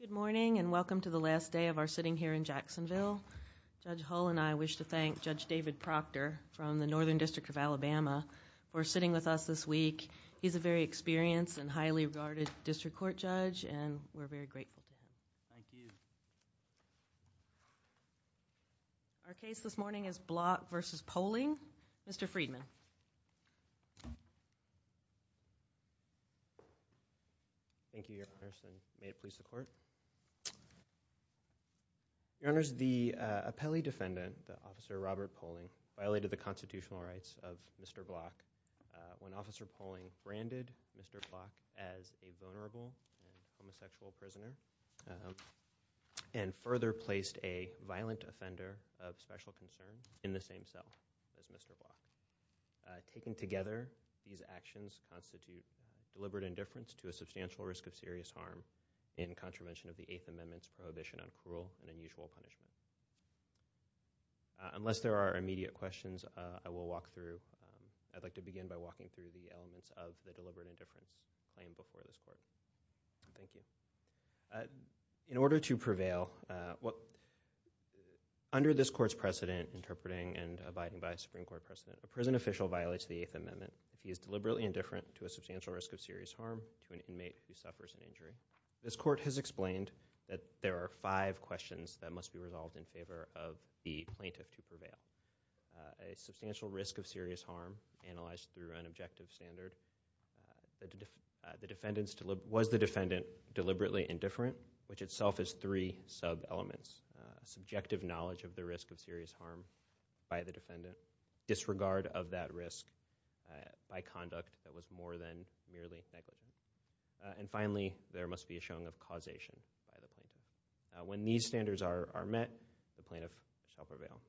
Good morning and welcome to the last day of our sitting here in Jacksonville. Judge Hull and I wish to thank Judge David Proctor from the Northern District of Alabama for sitting with us this week. He's a very experienced and highly regarded district court judge and we're very grateful. Thank you. Our case this morning is Block v. Pohling. Mr. Friedman. Thank you, Your Honor. May it please the court. Your Honor, the appellee defendant, Officer Robert Pohling, violated the constitutional rights of Mr. Block. When Officer Pohling branded Mr. Block as a vulnerable homosexual prisoner and further placed a violent offender of special concern in the same cell as Mr. Block. Taken together, these actions constitute deliberate indifference to a substantial risk of serious harm in contravention of the Eighth Amendment's prohibition on cruel and unusual punishment. Unless there are immediate questions, I will walk through. I'd like to begin by walking through the elements of the deliberate indifference claimed before this court. Thank you. In order to prevail, under this court's precedent interpreting and abiding by a Supreme Court precedent, a prison official violates the Eighth Amendment if he is deliberately indifferent to a substantial risk of serious harm to an inmate who suffers an injury. This court has explained that there are five questions that must be resolved in favor of the plaintiff to prevail. A substantial risk of serious harm analyzed through an objective standard. Was the defendant deliberately indifferent? Which itself is three sub-elements. Subjective knowledge of the risk of serious harm by the defendant. Disregard of that risk by conduct that was more than merely negligible. And finally, there must be a showing of causation. When these standards are met, the plaintiff shall prevail.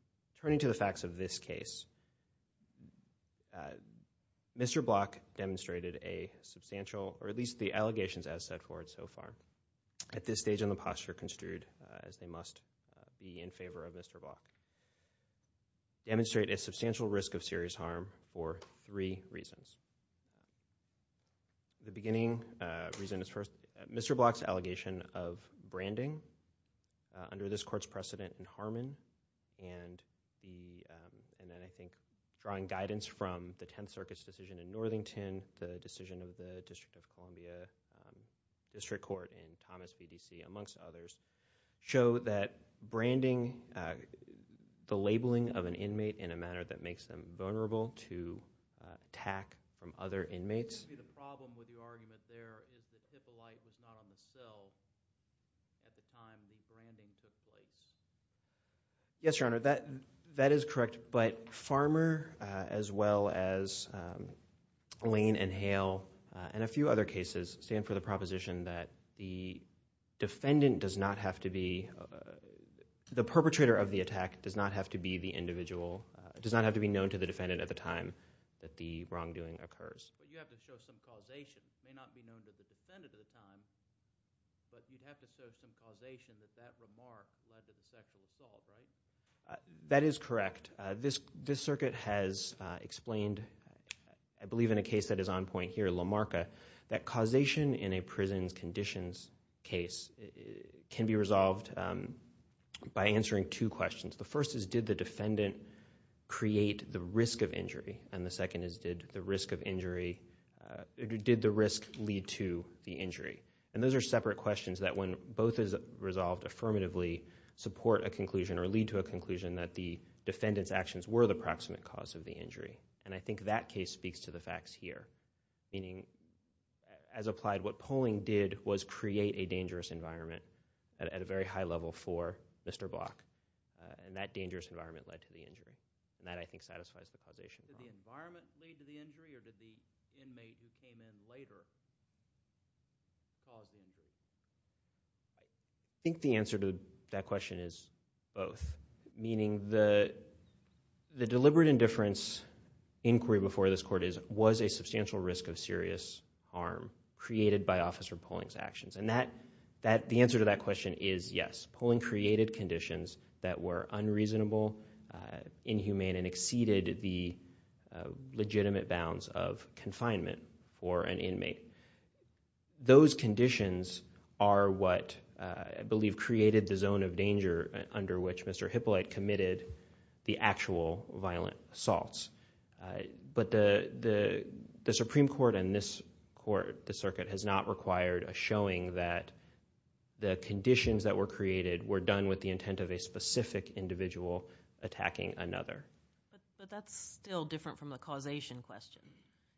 Turning to the facts of this case, Mr. Block demonstrated a substantial, or at least the allegations as set forth so far, at this stage in the posture construed as they must be in favor of Mr. Block, demonstrate a substantial risk of serious harm for three reasons. The beginning reason is first, Mr. Block's allegation of branding under this court's precedent in Harmon, and then I think drawing guidance from the Tenth Circuit's decision in Northington, the decision of the District of Columbia District Court in Thomas BDC, amongst others, show that branding, the labeling of an inmate in a manner that makes them vulnerable to attack from other inmates. Yes, Your Honor, that is correct, but Farmer, as well as Lane and Hale, and a few other cases, stand for the proposition that the defendant does not have to be, the perpetrator of the attack does not have to be the individual, does not have to be known to the defendant at the time that the wrongdoing occurs. That is correct. This circuit has explained, I believe in a case that is on point here, LaMarca, that by answering two questions. The first is, did the defendant create the risk of injury? And the second is, did the risk lead to the injury? And those are separate questions that when both are resolved affirmatively, support a conclusion or lead to a conclusion that the defendant's actions were the proximate cause of the injury. And I think that case speaks to the facts here. Meaning, as applied, what polling did was create a dangerous environment at a very high level for Mr. Block. And that dangerous environment led to the injury. And that, I think, satisfies the causation. I think the answer to that question is both. Meaning, the deliberate indifference inquiry before this Court is, was a substantial risk of serious harm created by Officer Poling's actions? And the answer to that question is yes. Poling created conditions that were unreasonable, inhumane, and exceeded the legitimate bounds of confinement for an inmate. Those conditions are what, I believe, created the zone of danger under which Mr. Hippolyte committed the actual violent assaults. But the Supreme Court and this court, the circuit, has not required a showing that the conditions that were created were done with the intent of a specific individual attacking another. But that's still different from the causation question.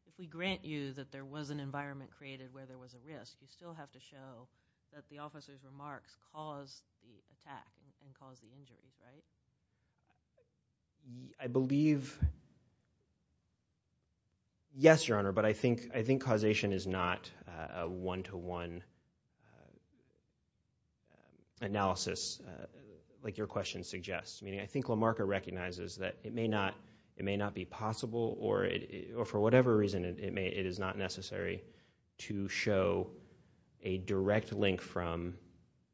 If we grant you that there was an environment created where there was a risk, we still have to show that the officer's remarks caused the attack and caused the injury, right? I believe, yes, Your Honor, but I think causation is not a one-to-one analysis, like your question suggests. Meaning, I think LaMarca recognizes that it may not be possible, or for whatever reason, it is not necessary to show a direct link from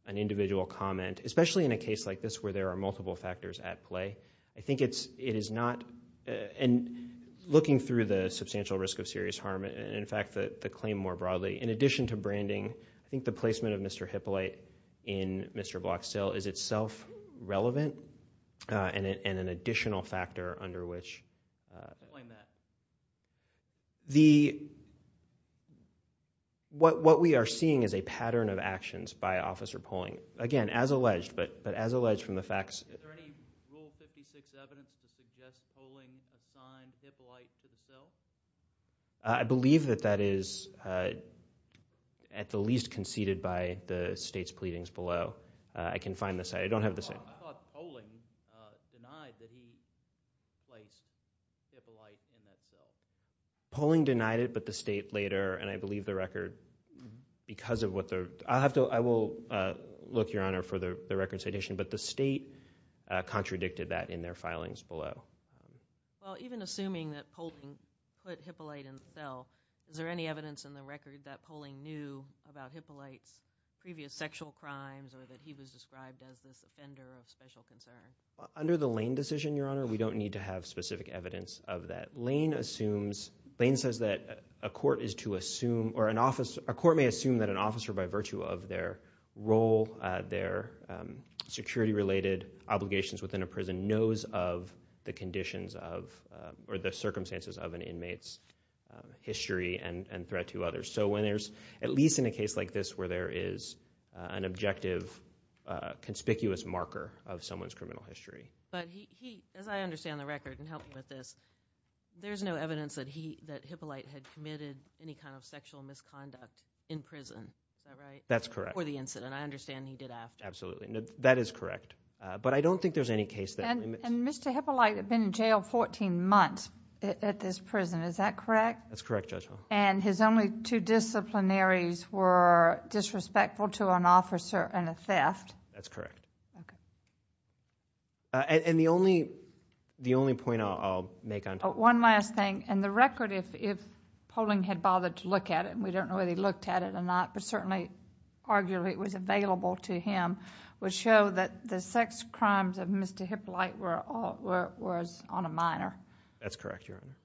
an individual comment, especially in a case like this where there are multiple factors at play. I think it is not, and looking through the substantial risk of serious harm, and in fact the claim more broadly, in addition to branding, I think the placement of Mr. Hippolyte in Mr. Bloxtel is itself relevant, and an additional factor under which... What we are seeing is a pattern of actions by officer polling. Again, as alleged, but as alleged from the facts... Is there any Rule 56 evidence to suggest polling assigned Hippolyte to the cell? I believe that that is at the least conceded by the State's pleadings below. I can find the site. I don't have the site. I thought polling denied that he placed Hippolyte in that cell. Polling denied it, but the State later, and I believe the record, because of what they're... I will look, Your Honor, for the record citation, but the State contradicted that in their filings below. Even assuming that polling put Hippolyte in the cell, is there any evidence in the record that polling knew about Hippolyte's previous sexual crimes or that he was described as this offender of special concern? Under the Lane decision, Your Honor, we don't need to have specific evidence of that. Lane assumes... Lane says that a court is to assume or an officer... A court may assume that an officer, by virtue of their role, their security-related obligations within a prison, knows of the conditions of or the circumstances of an inmate's history and threat to others. So when there's, at least in a case like this where there is an objective conspicuous marker of someone's criminal history. But he, as I understand the record, and help me with this, there's no evidence that Hippolyte had committed any kind of sexual misconduct in prison, is that right? That's correct. Before the incident. I understand he did after. Absolutely. That is correct. But I don't think there's any case that... And Mr. Hippolyte had been in jail 14 months at this prison, is that correct? That's correct, Judge Hall. And his only two disciplinaries were disrespectful to an officer and a theft? That's correct. Okay. And the only point I'll make on... One last thing. In the record, if polling had bothered to look at it, and we don't know whether he looked at it or not, but certainly arguably it was available to him, would show that the sex crimes of Mr. Hippolyte was on a minor. That's correct, Your Honor.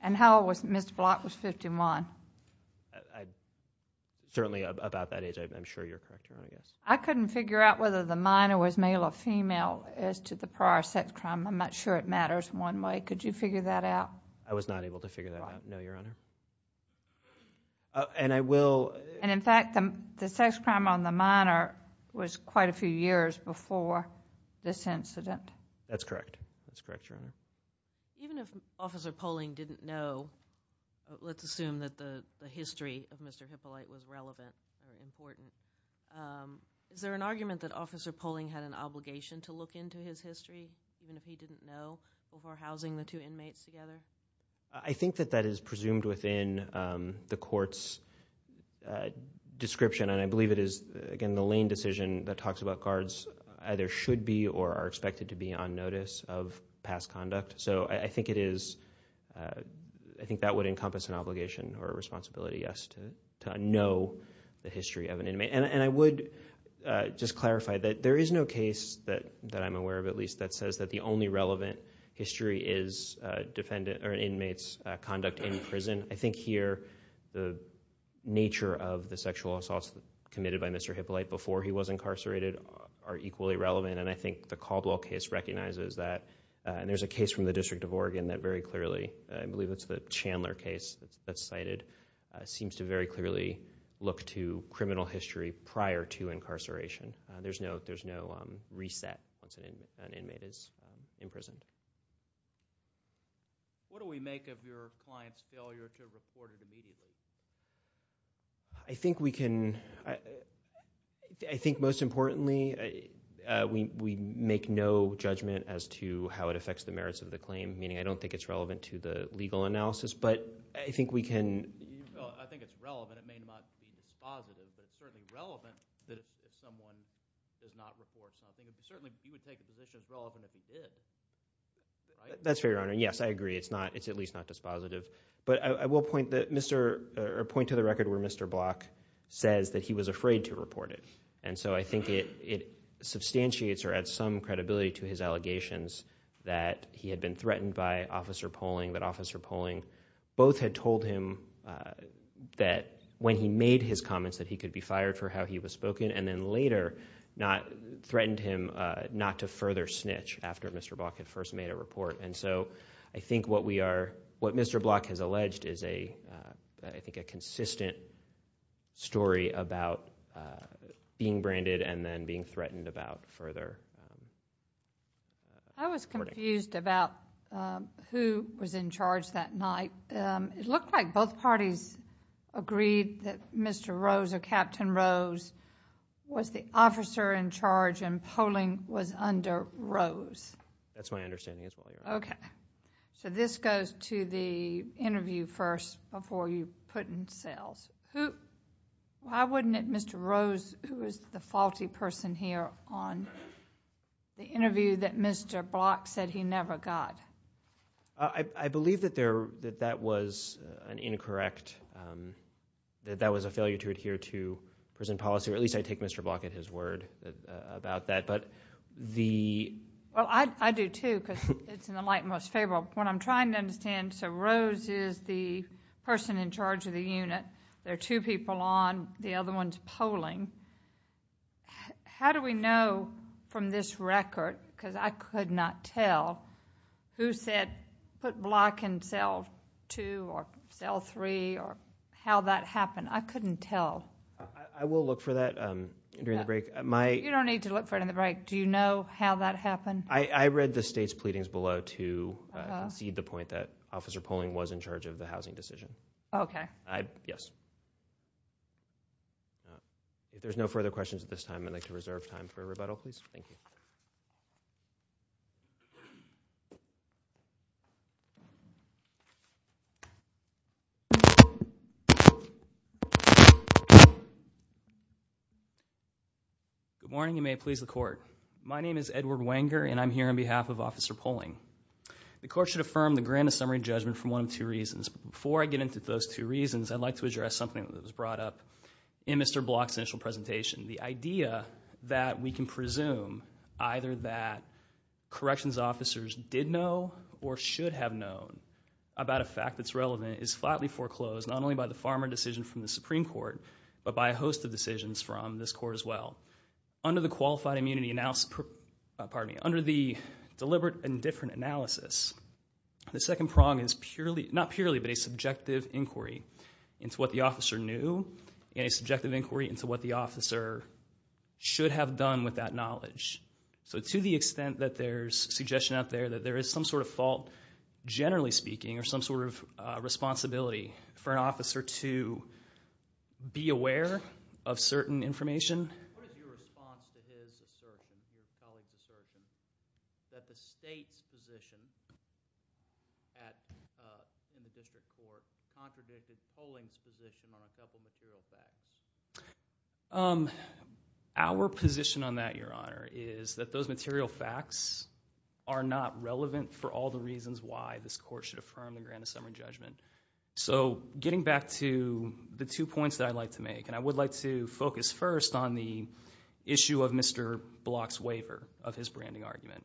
And how old was Mr. Block? He was 51. Certainly about that age, I'm sure you're correct, Your Honor. I couldn't figure out whether the minor was male or female as to the prior sex crime. I'm not sure it matters one way. Could you figure that out? I was not able to figure that out, no, Your Honor. And I will... And in fact, the sex crime on the minor was quite a few years before this incident. That's correct. That's correct, Your Honor. Even if officer polling didn't know, let's assume that the history of Mr. Hippolyte was relevant or important, is there an argument that officer polling had an obligation to look into his history, even if he didn't know, before housing the two inmates together? I think that that is presumed within the court's description, and I believe it is, again, the Lane decision that talks about guards either should be or are expected to be on notice of past conduct. So, I think that would encompass an obligation or a responsibility, yes, to know the history of an inmate. And I would just clarify that there is no case that I'm aware of, at least, that says that the only relevant history is an inmate's conduct in prison. I think here the nature of the sexual assaults committed by Mr. Hippolyte before he was incarcerated are equally relevant, and I think the Caldwell case recognizes that. And there's a case from the District of Oregon that very clearly, I believe it's the Chandler case that's cited, seems to very clearly look to criminal history prior to incarceration. There's no reset once an inmate is imprisoned. What do we make of your client's failure to report it immediately? I think we can... I think, most importantly, we make no judgment as to how it affects the merits of the claim, meaning I don't think it's relevant to the legal analysis, but I think we can... Well, I think it's relevant. It may not be dispositive, but it's certainly relevant that if someone does not report something. Certainly, he would take a position as relevant if he did, right? That's fair, Your Honor. Yes, I agree. It's at least not dispositive. But I will point to the record where Mr. Block says that he was afraid to report it, and so I think it substantiates or adds some credibility to his allegations that he had been threatened by officer polling, that officer polling both had told him that when he made his comments that he could be fired for how he was spoken and then later threatened him not to further snitch after Mr. Block had first made a report. And so I think what Mr. Block has alleged is, I think, a consistent story about being branded and then being threatened about further reporting. I was confused about who was in charge that night. It looked like both parties agreed that Mr. Rose or Captain Rose was the officer in charge and polling was under Rose. That's my understanding as well, Your Honor. Okay. So this goes to the interview first before you put in sales. Why wouldn't it Mr. Rose, who is the faulty person here, on the interview that Mr. Block said he never got? I believe that that was an incorrect, that that was a failure to adhere to prison policy, or at least I take Mr. Block at his word about that. Well, I do too because it's in the light most favorable. What I'm trying to understand, so Rose is the person in charge of the unit, there are two people on, the other one is polling. How do we know from this record, because I could not tell, who said put Block in cell two or cell three or how that happened? I couldn't tell. I will look for that during the break. You don't need to look for it in the break. Do you know how that happened? I read the state's pleadings below to concede the point that Officer Polling was in charge of the housing decision. Okay. Yes. If there's no further questions at this time, I'd like to reserve time for a rebuttal, please. Thank you. Good morning. You may please the court. My name is Edward Wenger, and I'm here on behalf of Officer Polling. The court should affirm the grant of summary judgment for one of two reasons. Before I get into those two reasons, I'd like to address something that was brought up in Mr. Block's initial presentation. The idea that we can presume either that corrections officers did know or should have known about a fact that's relevant is flatly foreclosed, not only by the farmer decision from the Supreme Court, but by a host of decisions from this court as well. Under the qualified immunity analysis, pardon me, under the deliberate and different analysis, the second prong is purely, not purely, but a subjective inquiry into what the officer knew and a subjective inquiry into what the officer should have done with that knowledge. So to the extent that there's suggestion out there that there is some sort of fault, generally speaking, or some sort of responsibility for an officer to be aware of certain information. What is your response to his assertion, his colleague's assertion, that the state's position in the district court contradicted Polling's position on a couple of material facts? Our position on that, Your Honor, is that those material facts are not relevant for all the reasons why this court should affirm the Grand Assembly judgment. So getting back to the two points that I'd like to make, and I would like to focus first on the issue of Mr. Block's waiver of his branding argument.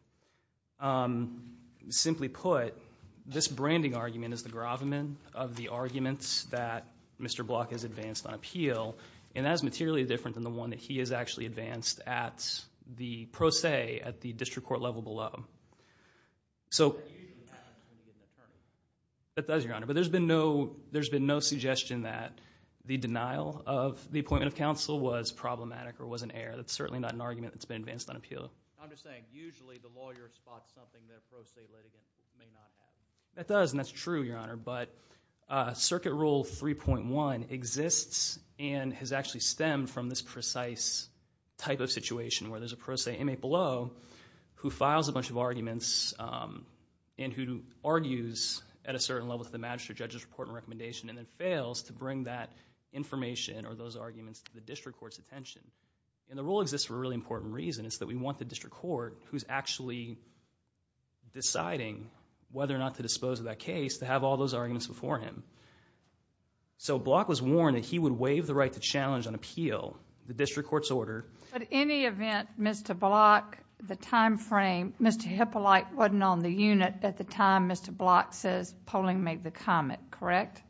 Simply put, this branding argument is the gravamen of the arguments that Mr. Block has advanced on appeal, and that is materially different than the one that he has actually advanced at the pro se at the district court level below. That usually happens when you get an attorney. That does, Your Honor. But there's been no suggestion that the denial of the appointment of counsel was problematic or was an error. That's certainly not an argument that's been advanced on appeal. I'm just saying usually the lawyer spots something that a pro se litigant may not have. That does, and that's true, Your Honor. But Circuit Rule 3.1 exists and has actually stemmed from this precise type of situation where there's a pro se inmate below who files a bunch of arguments and who argues at a certain level to the magistrate judge's report and recommendation and then fails to bring that information or those arguments to the district court's attention. And the rule exists for a really important reason. It's that we want the district court who's actually deciding whether or not to dispose of that case to have all those arguments before him. So Block was warned that he would waive the right to challenge on appeal the district court's order. At any event, Mr. Block, the time frame, Mr. Hippolite wasn't on the unit at the time Mr. Block says polling made the comment, correct?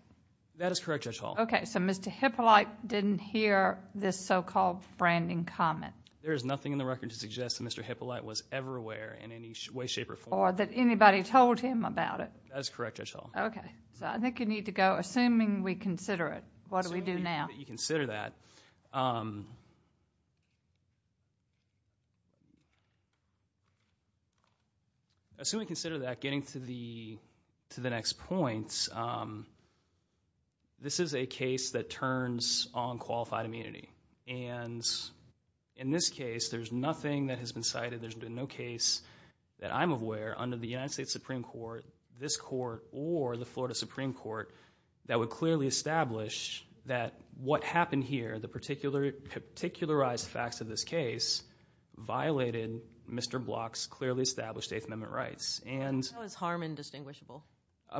That is correct, Judge Hall. Okay, so Mr. Hippolite didn't hear this so-called branding comment. There is nothing in the record to suggest that Mr. Hippolite was ever aware in any way, shape, or form. Or that anybody told him about it. That is correct, Judge Hall. Okay, so I think you need to go. Assuming we consider it, what do we do now? Assuming that you consider that, assuming we consider that, getting to the next point, this is a case that turns on qualified immunity. And in this case, there's nothing that has been cited. There's been no case that I'm aware, under the United States Supreme Court, this court, or the Florida Supreme Court, that would clearly establish that what happened here, the particularized facts of this case, violated Mr. Block's clearly established Eighth Amendment rights. How is Harmon distinguishable?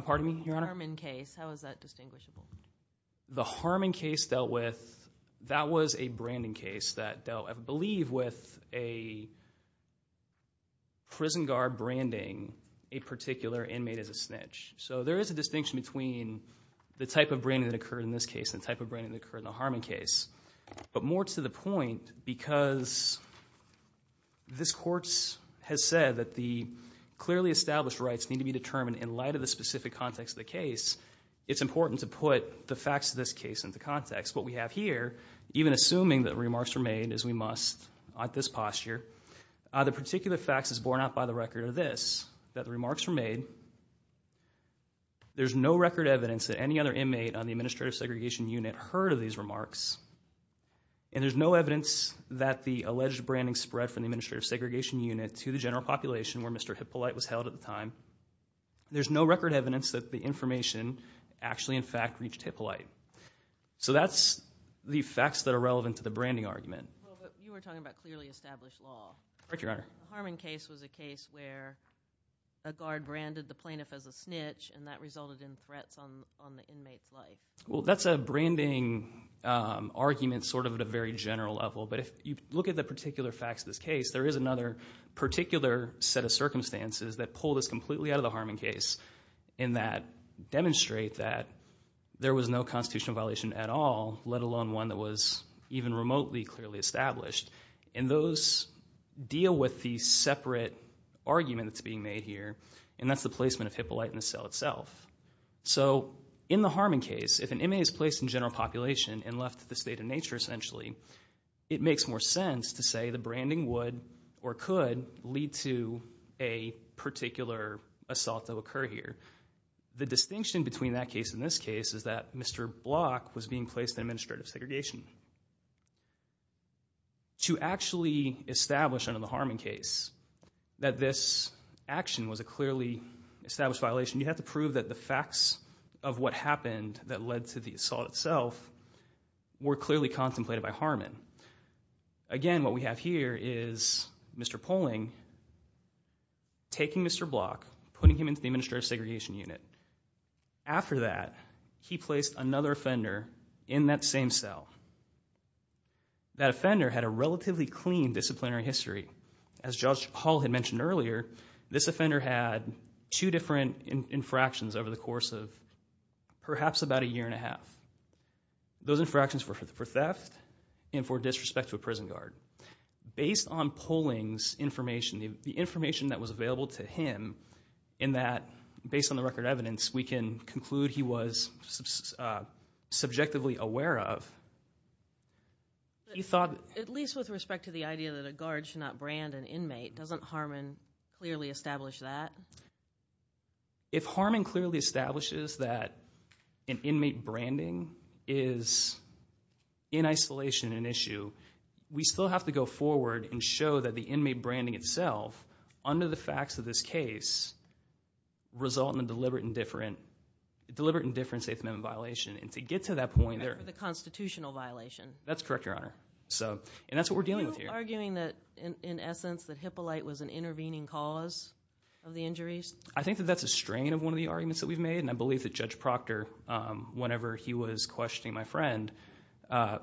Pardon me, Your Honor? Harmon case, how is that distinguishable? The Harmon case dealt with, that was a branding case that dealt, I believe, with a prison guard branding a particular inmate as a snitch. So there is a distinction between the type of branding that occurred in this case and the type of branding that occurred in the Harmon case. But more to the point, because this court has said that the clearly established rights need to be determined in light of the specific context of the case, it's important to put the facts of this case into context. What we have here, even assuming that remarks were made, as we must at this posture, the particular facts is borne out by the record of this, that the remarks were made, there's no record evidence that any other inmate on the Administrative Segregation Unit heard of these remarks, and there's no evidence that the alleged branding spread from the Administrative Segregation Unit to the general population where Mr. Hippolyte was held at the time. There's no record evidence that the information actually, in fact, reached Hippolyte. So that's the facts that are relevant to the branding argument. Well, but you were talking about clearly established law. Correct, Your Honor. The Harmon case was a case where a guard branded the plaintiff as a snitch, and that resulted in threats on the inmate's life. Well, that's a branding argument sort of at a very general level, but if you look at the particular facts of this case, there is another particular set of circumstances that pull this completely out of the Harmon case and that demonstrate that there was no constitutional violation at all, let alone one that was even remotely clearly established. And those deal with the separate argument that's being made here, and that's the placement of Hippolyte in the cell itself. So in the Harmon case, if an inmate is placed in general population and left to the state of nature, essentially, it makes more sense to say the branding would or could lead to a particular assault that would occur here. The distinction between that case and this case is that Mr. Block was being placed in administrative segregation. To actually establish under the Harmon case that this action was a clearly established violation, you have to prove that the facts of what happened that led to the assault itself were clearly contemplated by Harmon. Again, what we have here is Mr. Poling taking Mr. Block, putting him into the administrative segregation unit. After that, he placed another offender in that same cell. That offender had a relatively clean disciplinary history. As Judge Hall had mentioned earlier, this offender had two different infractions Those infractions were for theft and for disrespect to a prison guard. Based on Poling's information, the information that was available to him, in that, based on the record evidence, we can conclude he was subjectively aware of, he thought... At least with respect to the idea that a guard should not brand an inmate, doesn't Harmon clearly establish that? If Harmon clearly establishes that an inmate branding is in isolation and an issue, we still have to go forward and show that the inmate branding itself, under the facts of this case, result in a deliberate and different State Amendment violation. And to get to that point... For the constitutional violation. That's correct, Your Honor. And that's what we're dealing with here. Are you arguing that, in essence, that Hippolyte was an intervening cause of the injuries? I think that that's a strain of one of the arguments that we've made. And I believe that Judge Proctor, whenever he was questioning my friend,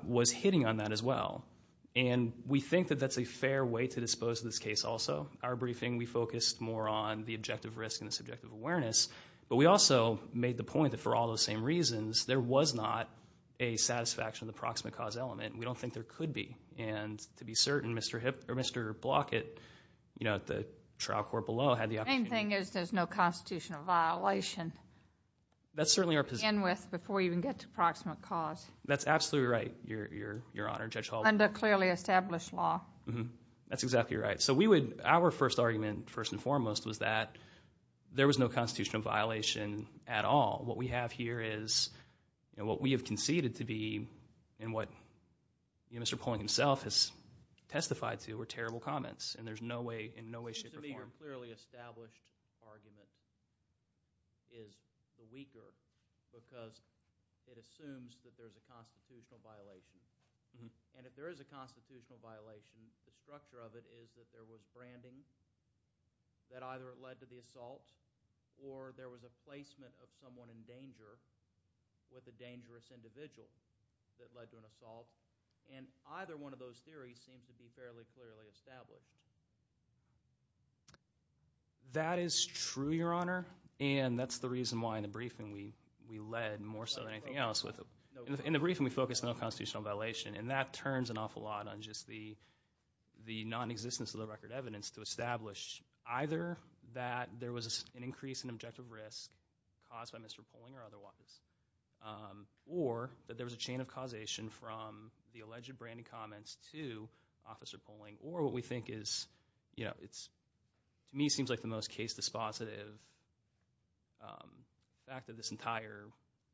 was hitting on that as well. And we think that that's a fair way to dispose of this case also. Our briefing, we focused more on the objective risk and the subjective awareness. But we also made the point that for all those same reasons, there was not a satisfaction of the proximate cause element. We don't think there could be. And to be certain, Mr. Blockett, at the trial court below, had the opportunity. The main thing is there's no constitutional violation to begin with before you even get to proximate cause. That's absolutely right, Your Honor, Judge Hall. Under clearly established law. That's exactly right. So our first argument, first and foremost, was that there was no constitutional violation at all. What we have here is what we have conceded to be and what Mr. Poling himself has testified to were terrible comments. And there's in no way, shape, or form. The clearly established argument is the weaker because it assumes that there's a constitutional violation. And if there is a constitutional violation, the structure of it is that there was branding that either led to the assault or there was a placement of someone in danger with a dangerous individual that led to an assault. And either one of those theories seems to be fairly clearly established. That is true, Your Honor, and that's the reason why in the briefing we led more so than anything else. In the briefing we focused on the constitutional violation, and that turns an awful lot on just the nonexistence of the record evidence to establish either that there was an increase in objective risk caused by Mr. Poling or otherwise, or that there was a chain of causation from the alleged branding comments to Officer Poling, or what we think is, to me, seems like the most case dispositive fact of this entire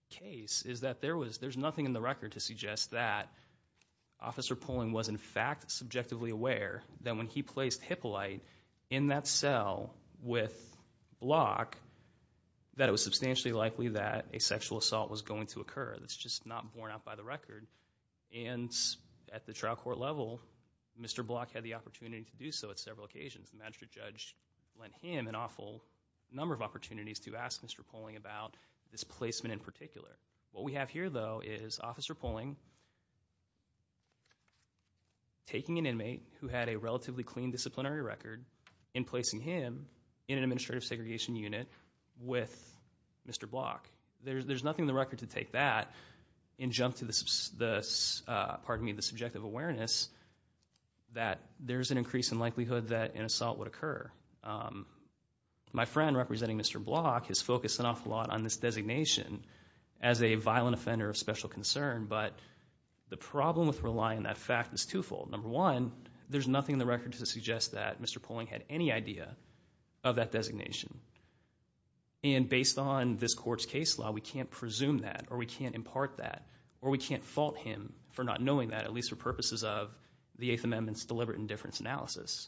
case is that there's nothing in the record to suggest that Officer Poling was in fact subjectively aware that when he placed Hippolyte in that cell with Block that it was substantially likely that a sexual assault was going to occur. That's just not borne out by the record. And at the trial court level, Mr. Block had the opportunity to do so at several occasions. The magistrate judge lent him an awful number of opportunities to ask Mr. Poling about this placement in particular. What we have here, though, is Officer Poling taking an inmate who had a relatively clean disciplinary record and placing him in an administrative segregation unit with Mr. Block. There's nothing in the record to take that and jump to the subjective awareness that there's an increase in likelihood that an assault would occur. My friend, representing Mr. Block, has focused an awful lot on this designation as a violent offender of special concern, but the problem with relying on that fact is twofold. Number one, there's nothing in the record to suggest that Mr. Poling had any idea of that designation. And based on this court's case law, we can't presume that or we can't impart that or we can't fault him for not knowing that, at least for purposes of the Eighth Amendment's deliberate indifference analysis.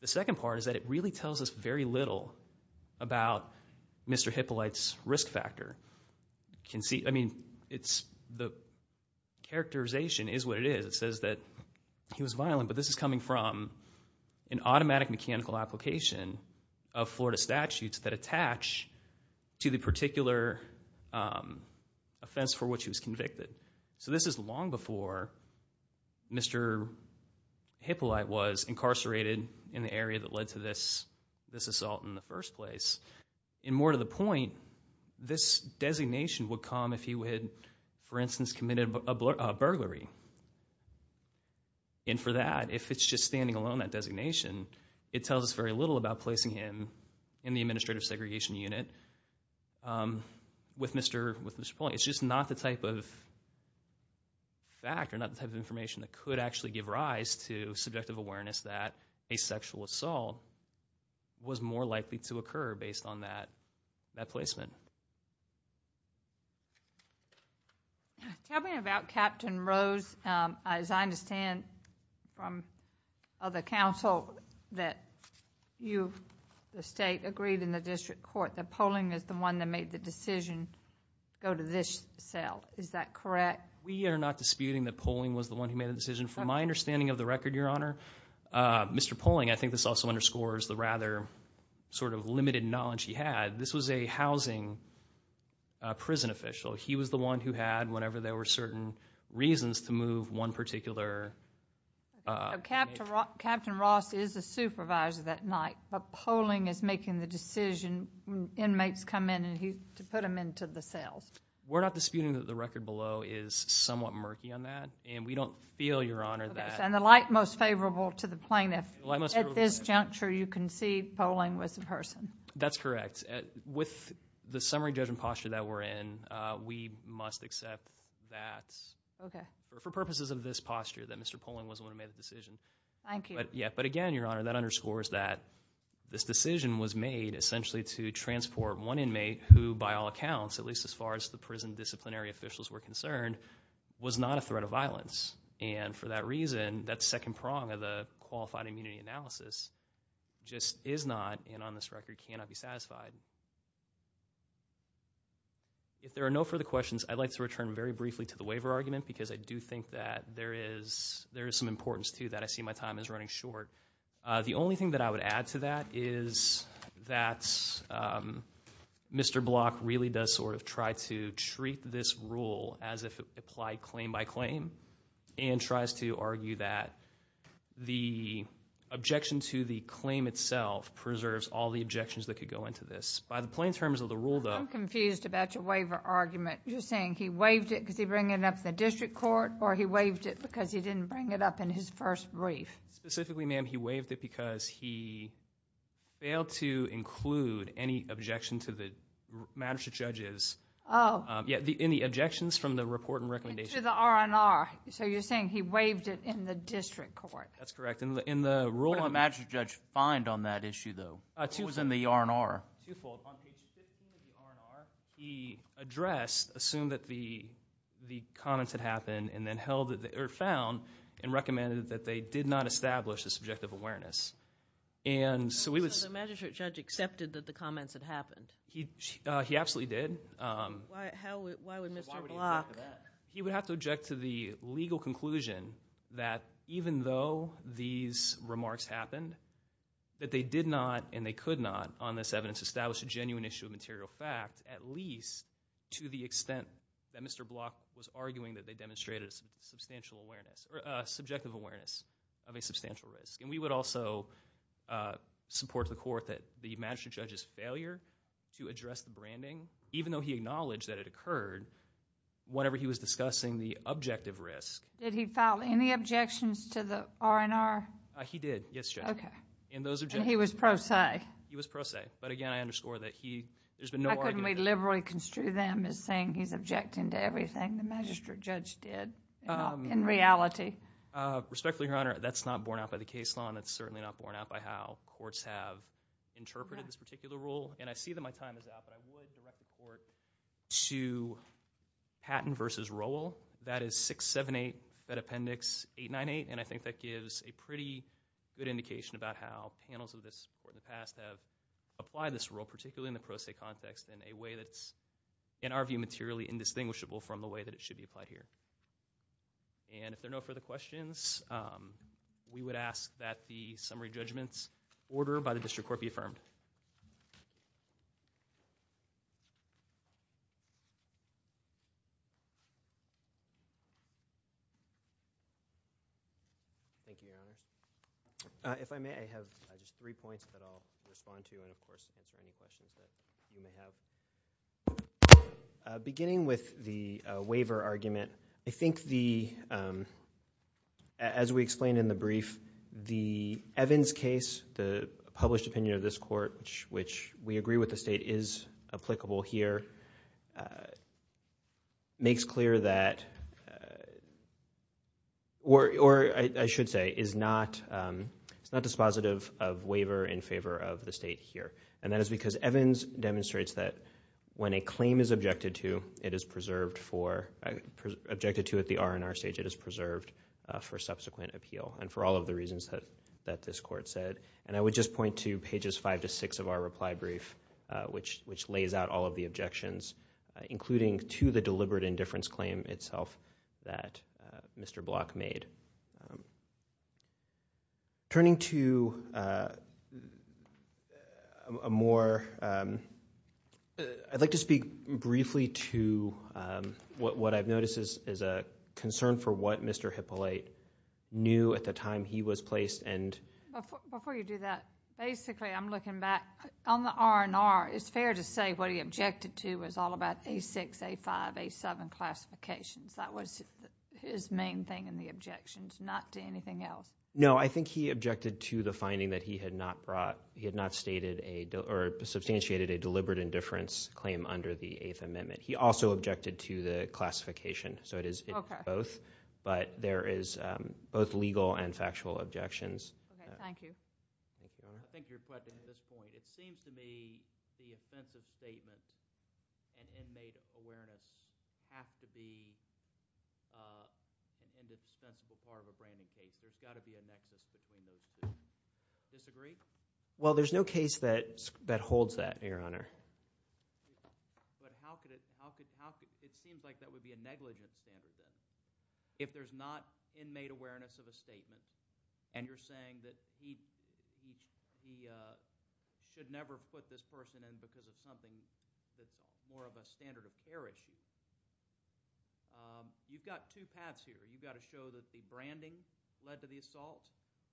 The second part is that it really tells us very little about Mr. Hippolyte's risk factor. I mean, the characterization is what it is. It says that he was violent, but this is coming from an automatic mechanical application of Florida statutes that attach to the particular offense for which he was convicted. So this is long before Mr. Hippolyte was incarcerated in the area that led to this assault in the first place. And more to the point, this designation would come if he had, for instance, committed a burglary. And for that, if it's just standing alone, that designation, it tells us very little about placing him in the administrative segregation unit with Mr. Poling. It's just not the type of fact or not the type of information that could actually give rise to subjective awareness that a sexual assault was more likely to occur based on that placement. Tell me about Captain Rose. As I understand from other counsel that you, the State, agreed in the district court that Poling is the one that made the decision to go to this cell. Is that correct? We are not disputing that Poling was the one who made the decision. From my understanding of the record, Your Honor, Mr. Poling, I think this also underscores the rather sort of limited knowledge he had, this was a housing prison official. He was the one who had, whenever there were certain reasons, to move one particular inmate. Captain Ross is a supervisor that night, but Poling is making the decision when inmates come in to put them into the cells. We're not disputing that the record below is somewhat murky on that, and we don't feel, Your Honor, that. And the light most favorable to the plaintiff, at this juncture you can see Poling was the person. That's correct. With the summary judgment posture that we're in, we must accept that for purposes of this posture, that Mr. Poling was the one who made the decision. Thank you. But again, Your Honor, that underscores that this decision was made essentially to transport one inmate who, by all accounts, at least as far as the prison disciplinary officials were concerned, was not a threat of violence. And for that reason, that second prong of the qualified immunity analysis just is not, and on this record cannot be satisfied. If there are no further questions, I'd like to return very briefly to the waiver argument, because I do think that there is some importance to that. I see my time is running short. The only thing that I would add to that is that Mr. Block really does sort of try to treat this rule as if it applied claim by claim and tries to argue that the objection to the claim itself preserves all the objections that could go into this. By the plain terms of the rule, though, I'm confused about your waiver argument. You're saying he waived it because he didn't bring it up in the district court or he waived it because he didn't bring it up in his first brief? Specifically, ma'am, I'm saying he waived it because he failed to include any objection to the magistrate judge's objections from the report and recommendation. To the R&R. So you're saying he waived it in the district court. That's correct. What did the magistrate judge find on that issue, though? What was in the R&R? Twofold. On page 15 of the R&R, he addressed, assumed that the comments had happened, and then found and recommended that they did not establish a subjective awareness. So the magistrate judge accepted that the comments had happened? He absolutely did. Why would Mr. Block? He would have to object to the legal conclusion that even though these remarks happened, that they did not and they could not on this evidence establish a genuine issue of material fact, at least to the extent that Mr. Block was arguing that they demonstrated a subjective awareness of a substantial risk. And we would also support the court that the magistrate judge's failure to address the branding, even though he acknowledged that it occurred, whenever he was discussing the objective risk. Did he file any objections to the R&R? He did, yes, Judge. And he was pro se? He was pro se. Okay. But, again, I underscore that there's been no argument there. How can we liberally construe them as saying he's objecting to everything the magistrate judge did in reality? Respectfully, Your Honor, that's not borne out by the case law, and it's certainly not borne out by how courts have interpreted this particular rule. And I see that my time is out, but I would direct the court to Patton v. Rowell. That is 678, that appendix 898, and I think that gives a pretty good indication about how panels of this court in the past have applied this rule, particularly in the pro se context, in a way that's, in our view, materially indistinguishable from the way that it should be applied here. And if there are no further questions, we would ask that the summary judgment order by the district court be affirmed. Thank you, Your Honor. If I may, I have just three points that I'll respond to, and, of course, answer any questions that you may have. Beginning with the waiver argument, I think the, as we explained in the brief, the Evans case, the published opinion of this court, which we agree with the state is applicable here, makes clear that, or I should say, is not dispositive of waiver in favor of the state here. And that is because Evans demonstrates that when a claim is objected to, it is preserved for, objected to at the R&R stage, it is preserved for subsequent appeal, and for all of the reasons that this court said. And I would just point to pages 5 to 6 of our reply brief, which lays out all of the objections, including to the deliberate indifference claim itself that Mr. Block made. Turning to a more, I'd like to speak briefly to what I've noticed is a concern for what Mr. Hippolyte knew at the time he was placed. Before you do that, basically I'm looking back. On the R&R, it's fair to say what he objected to was all about A6, A5, A7 classifications. That was his main thing in the objections, not to anything else. No, I think he objected to the finding that he had not brought, he had not substantiated a deliberate indifference claim under the Eighth Amendment. He also objected to the classification. So it is both. But there is both legal and factual objections. Okay, thank you. Thank you, Your Honor. I think your question at this point, it seems to me the offensive statement and inmate awareness have to be an indispensable part of a braining case. There's got to be a nexus between those two. Disagree? Well, there's no case that holds that, Your Honor. But how could it? It seems like that would be a negligent standard. If there's not inmate awareness of a statement and you're saying that he should never put this person in because of something that's more of a standard of care issue, you've got two paths here. You've got to show that the branding led to the assault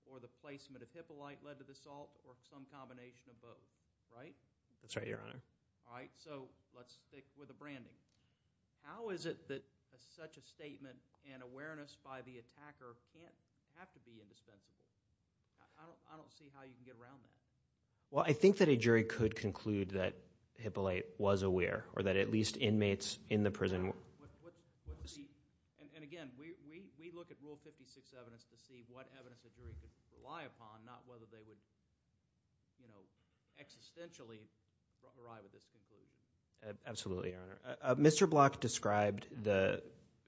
or the placement of Hippolyte led to the assault or some combination of both, right? That's right, Your Honor. All right, so let's stick with the branding. How is it that such a statement and awareness by the attacker can't have to be indispensable? I don't see how you can get around that. Well, I think that a jury could conclude that Hippolyte was aware or that at least inmates in the prison were. And again, we look at Rule 56 evidence to see what evidence a jury could rely upon, not whether they would existentially arrive at this conclusion. Absolutely, Your Honor. Mr. Block described the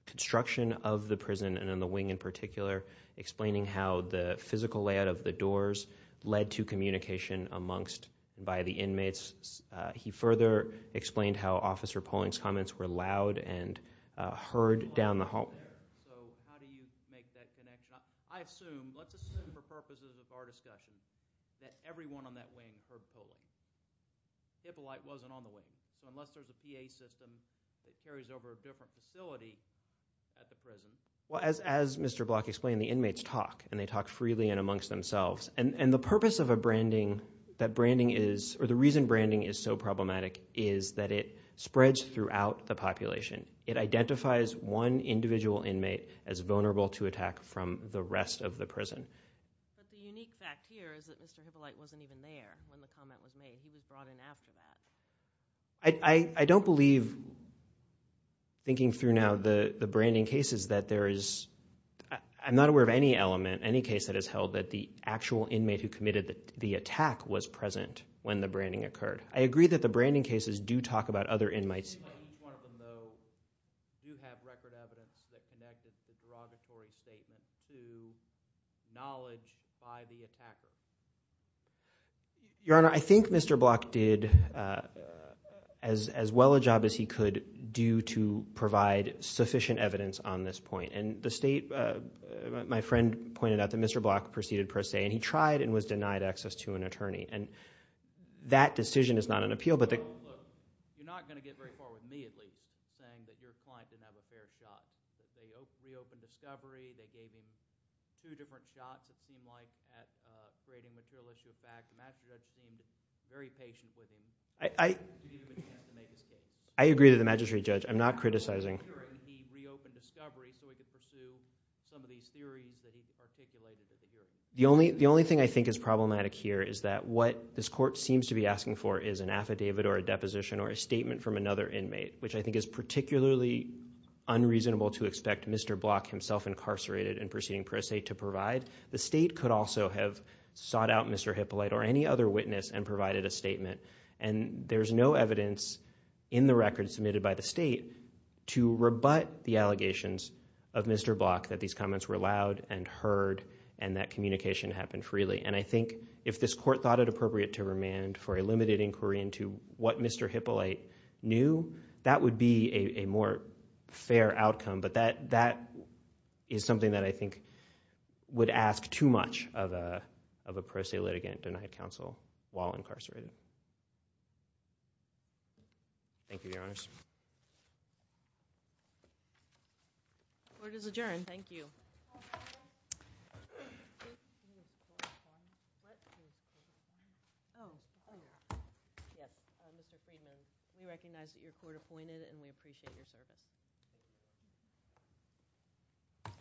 construction of the prison and on the wing in particular, explaining how the physical layout of the doors led to communication amongst and by the inmates. He further explained how Officer Poling's comments were loud and heard down the hall. So how do you make that connection? I assume, let's assume for purposes of our discussion, that everyone on that wing heard Poling. Hippolyte wasn't on the wing. Unless there's a PA system that carries over a different facility at the prison. Well, as Mr. Block explained, the inmates talk, and they talk freely and amongst themselves. And the purpose of a branding that branding is, or the reason branding is so problematic is that it spreads throughout the population. It identifies one individual inmate as vulnerable to attack from the rest of the prison. But the unique fact here is that Mr. Hippolyte wasn't even there when the comment was made. He was brought in after that. I don't believe, thinking through now the branding cases, that there is, I'm not aware of any element, any case that has held that the actual inmate who committed the attack was present when the branding occurred. I agree that the branding cases do talk about other inmates. Does each one of them, though, do have record evidence that connected the derogatory statement to knowledge by the attacker? Your Honor, I think Mr. Block did as well a job as he could do to provide sufficient evidence on this point. And the state, my friend pointed out that Mr. Block proceeded per se, and he tried and was denied access to an attorney. And that decision is not an appeal. You're not going to get very far with me, at least, saying that your client didn't have a fair shot. They reopened discovery. They gave him two different shots, it seemed like, at creating material issues. In fact, the magistrate judge seemed very patient with him. I agree with the magistrate judge. I'm not criticizing. He reopened discovery so he could pursue some of these theories that he articulated to the jury. The only thing I think is problematic here is that what this court seems to be asking for is an affidavit or a deposition or a statement from another inmate, which I think is particularly unreasonable to expect Mr. Block, himself incarcerated and proceeding per se, to provide. The state could also have sought out Mr. Hippolyte or any other witness and provided a statement. And there's no evidence in the record submitted by the state to rebut the allegations of Mr. Block that these comments were loud and heard and that communication happened freely. And I think if this court thought it appropriate to remand for a limited inquiry into what Mr. Hippolyte knew, that would be a more fair outcome. But that is something that I think would ask too much of a per se litigant denied counsel while incarcerated. Thank you, Your Honors. Court is adjourned. Thank you. Oh, Mr. Friedman, we recognize that you're court appointed and we appreciate your service.